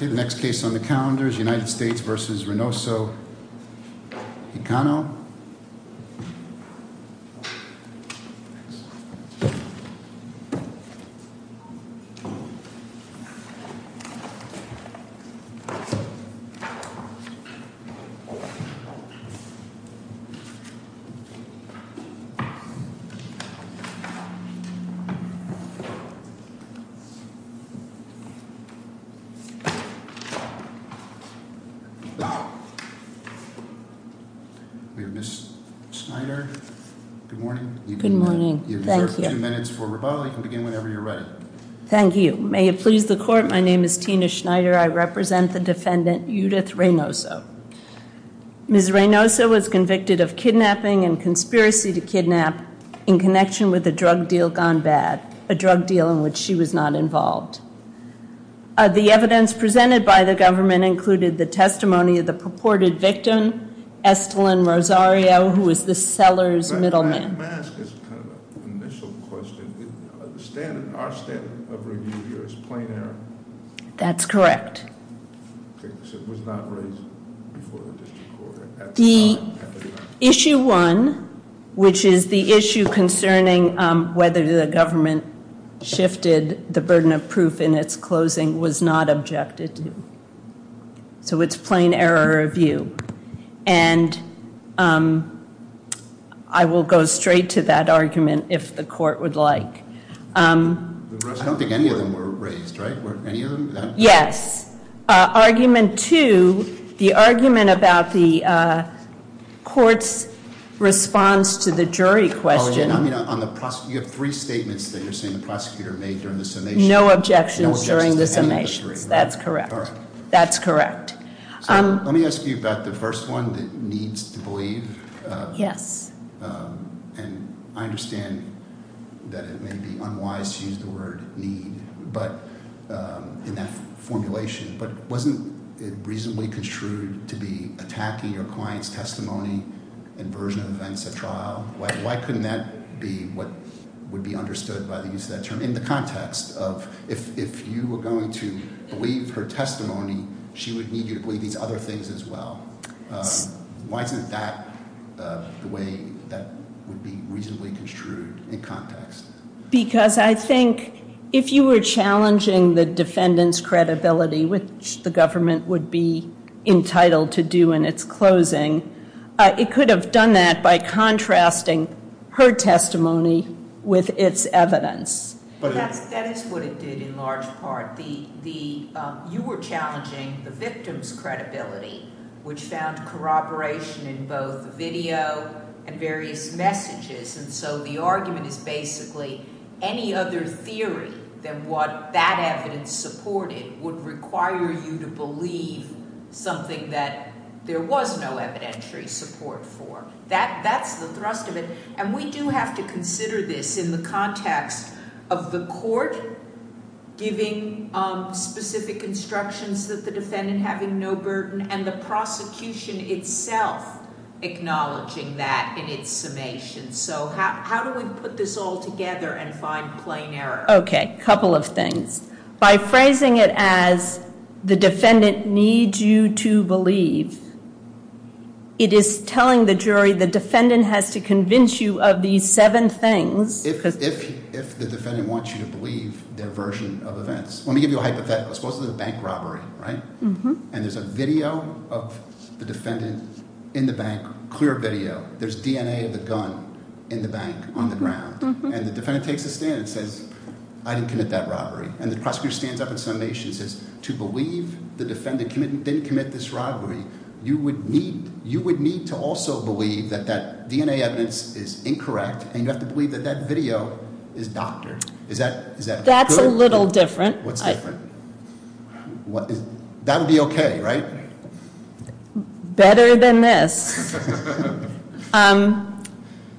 Next case on the calendar is United States v. Reynoso-Hiciano Good morning. Thank you. May it please the court, my name is Tina Schneider. I represent the defendant Judith Reynoso. Ms. Reynoso was convicted of kidnapping and conspiracy to kidnap in connection with a drug deal gone bad, a drug deal in which she was not involved. The evidence presented by the government included the testimony of the purported victim, Estelyn Rosario, who was the seller's middleman. May I ask as kind of an initial question, our standard of review here is plain error? That's correct. It was not raised before the district court. The issue one, which is the issue concerning whether the government shifted the burden of proof in its closing, was not objected to. So it's plain error review. And I will go straight to that argument if the court would like. I don't think any of them were raised, right? Yes. Argument two, the argument about the court's response to the jury question. You have three statements that you're saying the prosecutor made during the summation. No objections during the summations. That's correct. That's correct. Let me ask you about the first one, the needs to believe. Yes. And I understand that it may be unwise to use the word need in that formulation, but wasn't it reasonably construed to be attacking your client's testimony and version of events at trial? Why couldn't that be what would be understood by the use of that term in the context of if you were going to believe her testimony, she would need you to believe these other things as well? Why isn't that the way that would be reasonably construed in context? Because I think if you were challenging the defendant's credibility, which the government would be entitled to do in its closing, it could have done that by contrasting her testimony with its evidence. That is what it did in large part. You were challenging the victim's credibility, which found corroboration in both video and various messages. And so the argument is basically any other theory than what that evidence supported would require you to believe something that there was no evidentiary support for. That's the thrust of it. And we do have to consider this in the context of the court giving specific instructions that the defendant having no burden and the prosecution itself acknowledging that in its summation. So how do we put this all together and find plain error? Okay. A couple of things. By phrasing it as the defendant needs you to believe, it is telling the jury the defendant has to convince you of these seven things. If the defendant wants you to believe their version of events. Let me give you a hypothetical. Suppose there's a bank robbery, right? And there's a video of the defendant in the bank, clear video. There's DNA of the gun in the bank on the ground. And the defendant takes a stand and says, I didn't commit that robbery. And the prosecutor stands up in summation and says, to believe the defendant didn't commit this robbery, you would need to also believe that that DNA evidence is incorrect. And you have to believe that that video is doctored. That's a little different. What's different? That would be okay, right? Better than this.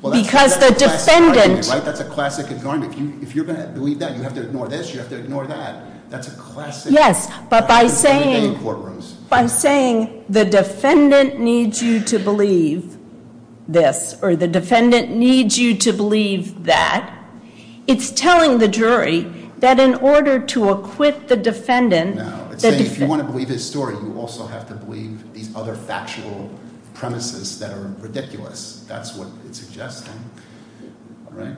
Because the defendant. That's a classic. If you're going to believe that, you have to ignore this. You have to ignore that. That's a classic. Yes. But by saying the defendant needs you to believe this or the defendant needs you to believe that, it's telling the jury that in order to acquit the defendant. If you want to believe his story, you also have to believe these other factual premises that are ridiculous. That's what it suggests, right?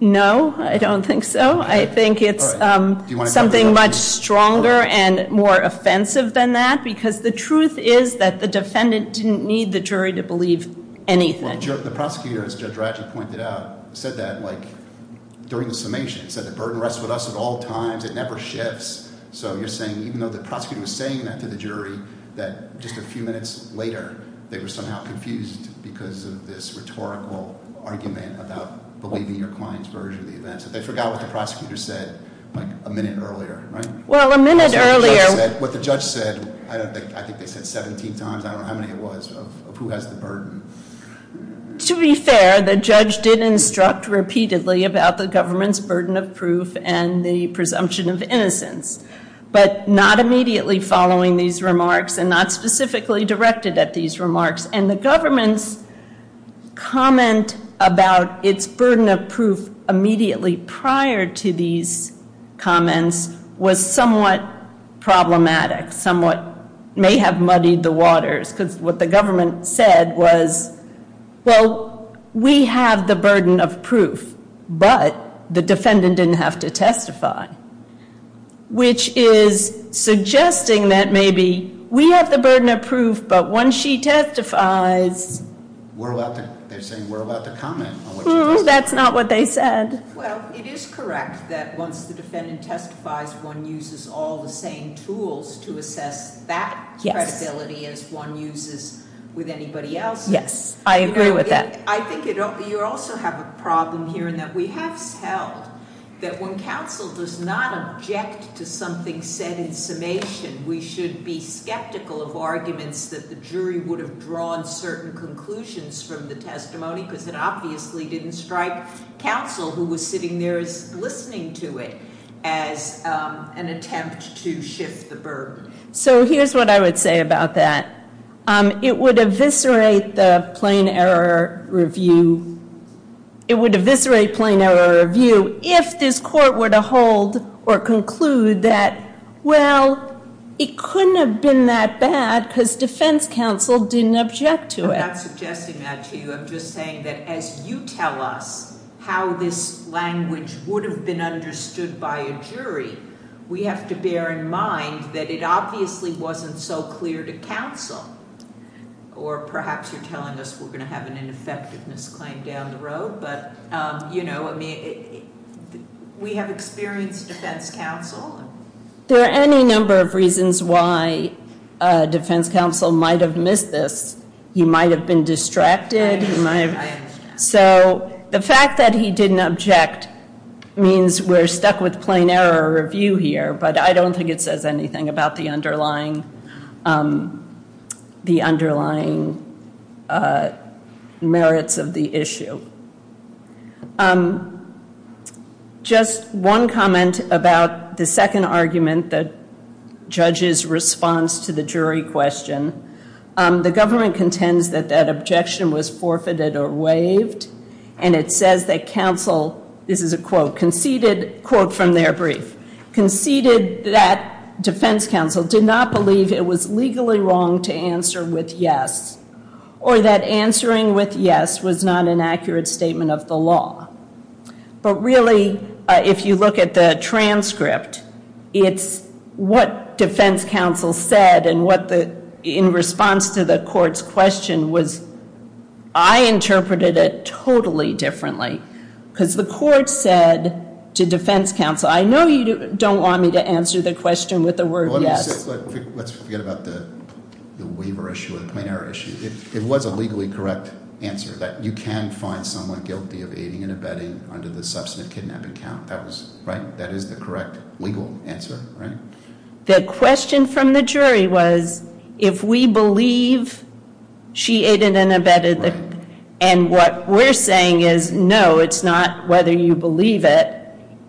No, I don't think so. I think it's something much stronger and more offensive than that. Because the truth is that the defendant didn't need the jury to believe anything. The prosecutor, as Judge Ratchett pointed out, said that during the summation. He said the burden rests with us at all times. It never shifts. So you're saying, even though the prosecutor was saying that to the jury, that just a few minutes later, they were somehow confused because of this rhetorical argument about believing your client's version of the event. So they forgot what the prosecutor said a minute earlier, right? Well, a minute earlier. What the judge said, I think they said 17 times. I don't know how many it was, of who has the burden. To be fair, the judge did instruct repeatedly about the government's burden of proof and the presumption of innocence, but not immediately following these remarks and not specifically directed at these remarks. And the government's comment about its burden of proof immediately prior to these comments was somewhat problematic, somewhat may have muddied the waters. Because what the government said was, well, we have the burden of proof, but the defendant didn't have to testify, which is suggesting that maybe we have the burden of proof, but when she testifies... They're saying, we're about to comment on what you testified. That's not what they said. Well, it is correct that once the defendant testifies, one uses all the same tools to assess that credibility as one uses with anybody else. Yes, I agree with that. I think you also have a problem here in that we have held that when counsel does not object to something said in summation, we should be skeptical of arguments that the jury would have drawn certain conclusions from the testimony because it obviously didn't strike counsel who was sitting there as listening to it as an attempt to shift the burden. So here's what I would say about that. It would eviscerate the plain error review. It would eviscerate plain error review if this court were to hold or conclude that, well, it couldn't have been that bad because defense counsel didn't object to it. I'm not suggesting that to you. I'm just saying that as you tell us how this language would have been understood by a jury, we have to bear in mind that it obviously wasn't so clear to counsel. Or perhaps you're telling us we're going to have an ineffectiveness claim down the road, but we have experienced defense counsel. There are any number of reasons why defense counsel might have missed this. He might have been distracted. So the fact that he didn't object means we're stuck with plain error review here, but I don't think it says anything about the underlying merits of the issue. Just one comment about the second argument, the judge's response to the jury question. The government contends that that objection was forfeited or waived, and it says that counsel, this is a quote, conceded, quote from their brief, conceded that defense counsel did not believe it was legally wrong to answer with yes or that answering with yes was not an accurate statement of the law. But really, if you look at the transcript, it's what defense counsel said and in response to the court's question was I interpreted it totally differently because the court said to defense counsel, I know you don't want me to answer the question with the word yes. Let's forget about the waiver issue or the plain error issue. It was a legally correct answer that you can find someone guilty of aiding and abetting under the substantive kidnapping count. That is the correct legal answer, right? The question from the jury was if we believe she aided and abetted, and what we're saying is no, it's not whether you believe it.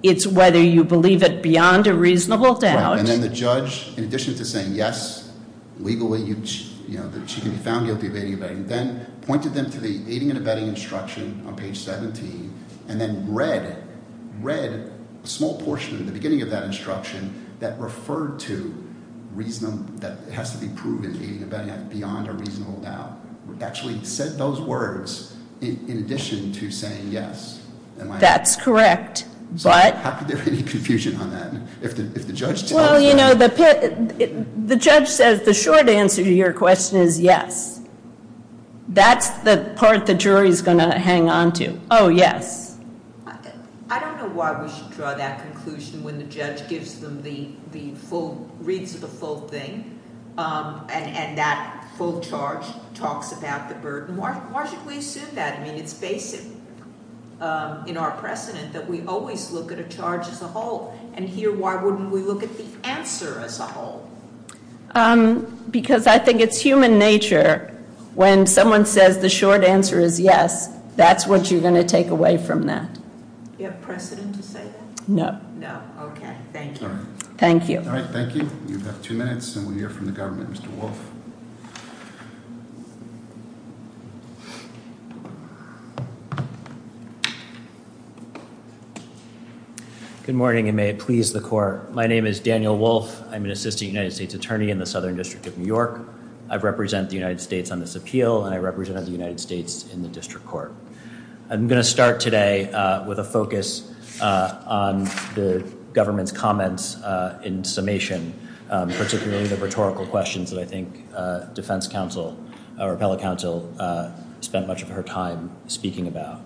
It's whether you believe it beyond a reasonable doubt. And then the judge, in addition to saying yes, legally, you know, that she can be found guilty of aiding and abetting, then pointed them to the aiding and abetting instruction on page 17 and then read a small portion at the beginning of that instruction that referred to it has to be proven aiding and abetting beyond a reasonable doubt. Actually said those words in addition to saying yes. That's correct. How could there be any confusion on that? Well, you know, the judge says the short answer to your question is yes. That's the part the jury is going to hang on to. Oh, yes. I don't know why we should draw that conclusion when the judge gives them the full, reads the full thing, and that full charge talks about the burden. Why should we assume that? I mean, it's basic in our precedent that we always look at a charge as a whole. And here, why wouldn't we look at the answer as a whole? Because I think it's human nature when someone says the short answer is yes, that's what you're going to take away from that. Do you have precedent to say that? No. No, okay. Thank you. Thank you. All right, thank you. You have two minutes, and we'll hear from the government. Mr. Wolf. Good morning, and may it please the court. My name is Daniel Wolf. I'm an assistant United States attorney in the Southern District of New York. I represent the United States on this appeal, and I represent the United States in the district court. I'm going to start today with a focus on the government's comments in summation, particularly the rhetorical questions that I think defense counsel or appellate counsel spent much of her time speaking about.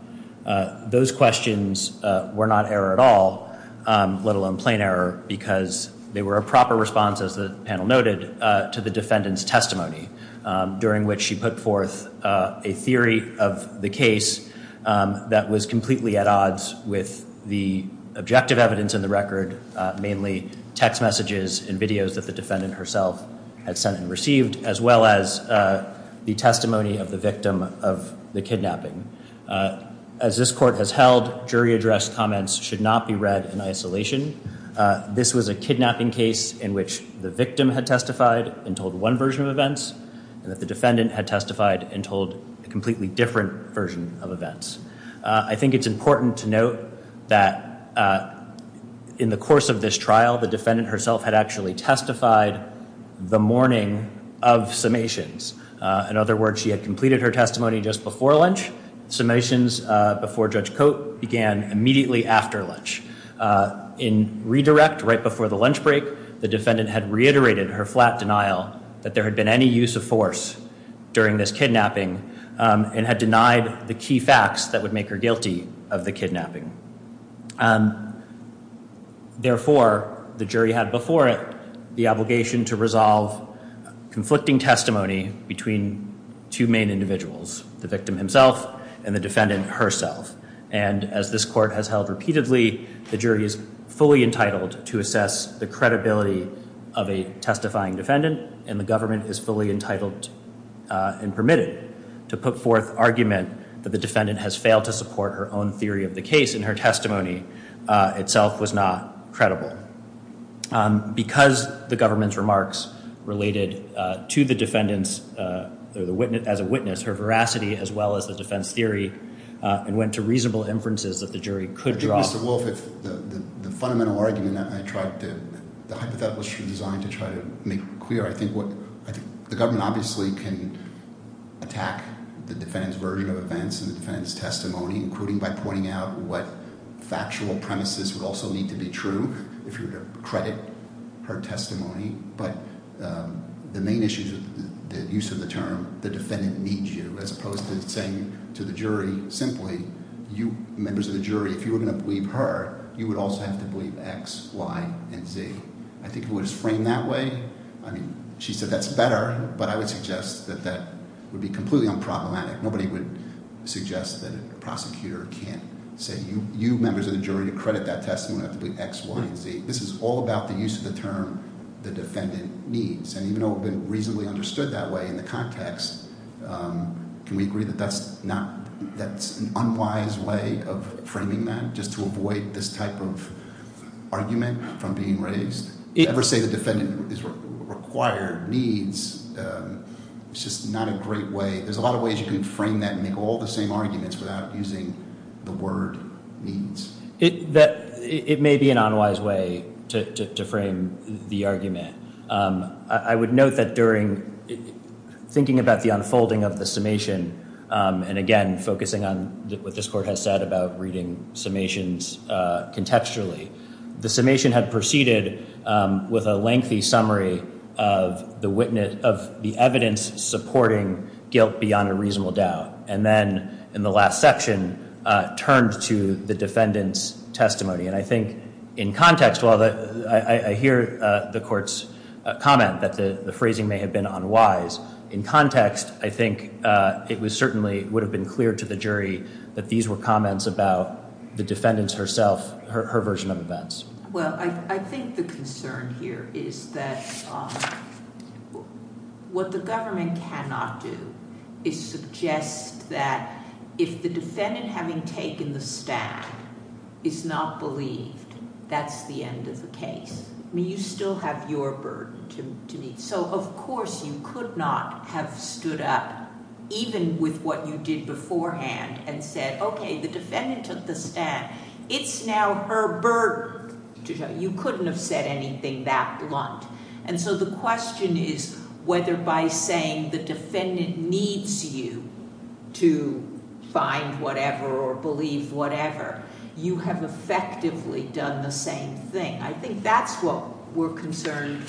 Those questions were not error at all, let alone plain error, because they were a proper response, as the panel noted, to the defendant's testimony, during which she put forth a theory of the case that was completely at odds with the objective evidence in the record, mainly text messages and videos that the defendant herself had sent and received, as well as the testimony of the victim of the kidnapping. As this court has held, jury addressed comments should not be read in isolation. This was a kidnapping case in which the victim had testified and told one version of events, and that the defendant had testified and told a completely different version of events. I think it's important to note that in the course of this trial, the defendant herself had actually testified the morning of summations. In other words, she had completed her testimony just before lunch. Summations before Judge Cote began immediately after lunch. In redirect, right before the lunch break, the defendant had reiterated her flat denial that there had been any use of force during this kidnapping and had denied the key facts that would make her guilty of the kidnapping. Therefore, the jury had before it the obligation to resolve conflicting testimony between two main individuals, the victim himself and the defendant herself. And as this court has held repeatedly, the jury is fully entitled to assess the credibility of a testifying defendant, and the government is fully entitled and permitted to put forth argument that the defendant has failed to support her own theory of the case and her testimony itself was not credible. Because the government's remarks related to the defendant as a witness, her veracity as well as the defense theory went to reasonable inferences that the jury could draw. Well, Mr. Wolfe, the fundamental argument that I tried to, the hypotheticals you designed to try to make clear, I think what, I think the government obviously can attack the defendant's version of events and the defendant's testimony, including by pointing out what factual premises would also need to be true if you were to credit her testimony. But the main issue is the use of the term, the defendant needs you, as opposed to saying to the jury simply, you members of the jury, if you were going to believe her, you would also have to believe X, Y, and Z. I think if it was framed that way, I mean, she said that's better, but I would suggest that that would be completely unproblematic. Nobody would suggest that a prosecutor can't say, you members of the jury, to credit that testimony, you have to believe X, Y, and Z. This is all about the use of the term, the defendant needs. And even though it would have been reasonably understood that way in the context, can we agree that that's an unwise way of framing that, just to avoid this type of argument from being raised? Ever say the defendant is required, needs, it's just not a great way. There's a lot of ways you can frame that and make all the same arguments without using the word needs. I would note that during thinking about the unfolding of the summation, and again, focusing on what this court has said about reading summations contextually, the summation had proceeded with a lengthy summary of the witness, of the evidence supporting guilt beyond a reasonable doubt. And then in the last section, turned to the defendant's testimony. And I think in context, I hear the court's comment that the phrasing may have been unwise. In context, I think it certainly would have been clear to the jury that these were comments about the defendant's herself, her version of events. Well, I think the concern here is that what the government cannot do is suggest that if the defendant having taken the stand is not believed, that's the end of the case. You still have your burden to meet. So, of course, you could not have stood up, even with what you did beforehand, and said, okay, the defendant took the stand. It's now her burden to show. You couldn't have said anything that blunt. And so the question is whether by saying the defendant needs you to find whatever or believe whatever, you have effectively done the same thing. I think that's what we're concerned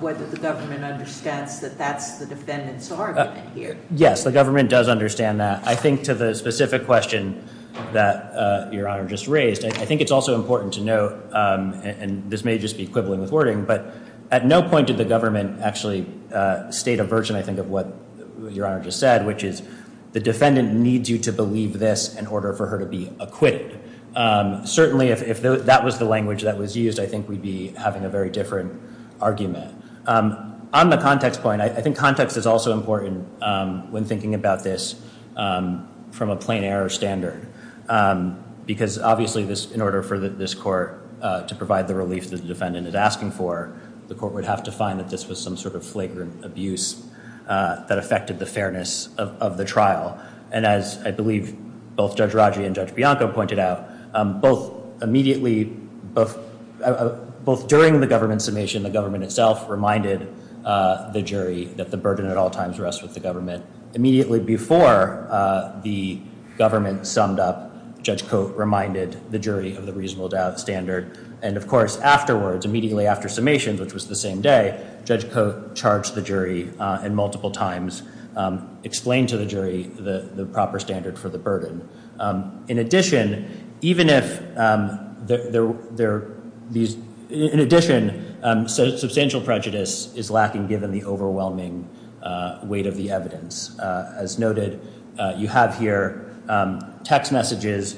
whether the government understands that that's the defendant's argument here. Yes, the government does understand that. I think to the specific question that Your Honor just raised, I think it's also important to note, and this may just be quibbling with wording, but at no point did the government actually state a version, I think, of what Your Honor just said, which is the defendant needs you to believe this in order for her to be acquitted. Certainly if that was the language that was used, I think we'd be having a very different argument. On the context point, I think context is also important when thinking about this from a plain error standard, because obviously in order for this court to provide the relief that the defendant is asking for, the court would have to find that this was some sort of flagrant abuse that affected the fairness of the trial. And as I believe both Judge Raggi and Judge Bianco pointed out, both immediately, both during the government summation, the government itself reminded the jury that the burden at all times rests with the government. Immediately before the government summed up, Judge Cote reminded the jury of the reasonable doubt standard. And, of course, afterwards, immediately after summations, which was the same day, Judge Cote charged the jury and multiple times explained to the jury the proper standard for the burden. In addition, substantial prejudice is lacking given the overwhelming weight of the evidence. As noted, you have here text messages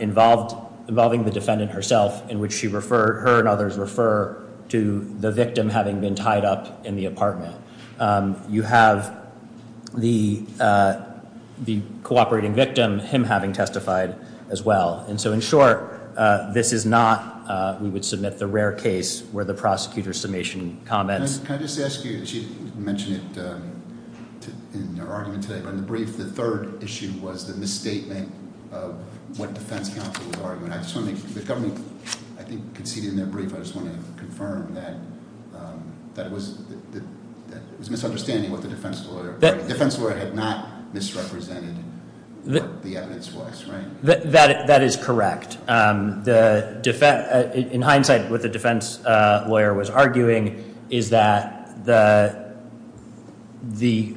involving the defendant herself in which her and others refer to the victim having been tied up in the apartment. You have the cooperating victim, him having testified as well. And so, in short, this is not, we would submit the rare case where the prosecutor's summation comments. Can I just ask you, you mentioned it in your argument today, but in the brief the third issue was the misstatement of what defense counsel was arguing. I just want to make, the government, I think, conceded in their brief, I just want to confirm that it was misunderstanding what the defense lawyer had not misrepresented what the evidence was, right? That is correct. In hindsight, what the defense lawyer was arguing is that the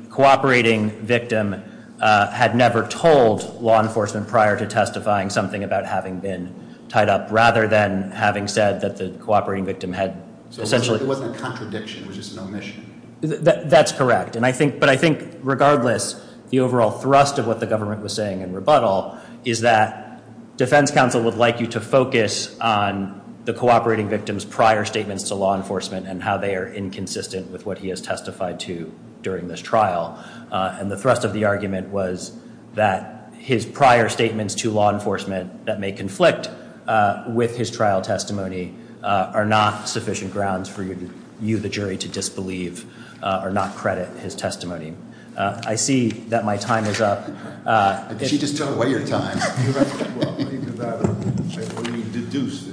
cooperating victim had never told law enforcement prior to testifying something about having been tied up, rather than having said that the cooperating victim had essentially So it wasn't a contradiction, it was just an omission. That's correct. But I think, regardless, the overall thrust of what the government was saying in rebuttal is that defense counsel would like you to focus on the cooperating victim's prior statements to law enforcement and how they are inconsistent with what he has testified to during this trial. And the thrust of the argument was that his prior statements to law enforcement that may conflict with his trial testimony are not sufficient grounds for you, the jury, to disbelieve or not credit his testimony. I see that my time is up. She just took away your time. Well, I think it's better to say what he deduced.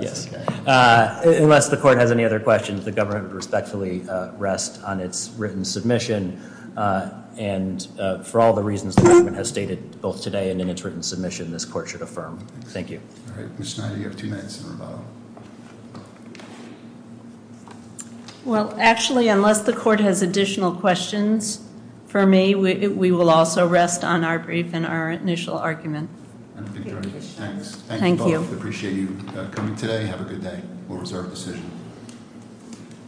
Yes. Unless the court has any other questions, the government would respectfully rest on its written submission, and for all the reasons the government has stated both today and in its written submission, this court should affirm. Thank you. All right. Ms. Schneider, you have two minutes in rebuttal. Well, actually, unless the court has additional questions for me, we will also rest on our brief and our initial argument. Thank you both. Appreciate you coming today. Have a good day. We'll reserve the session.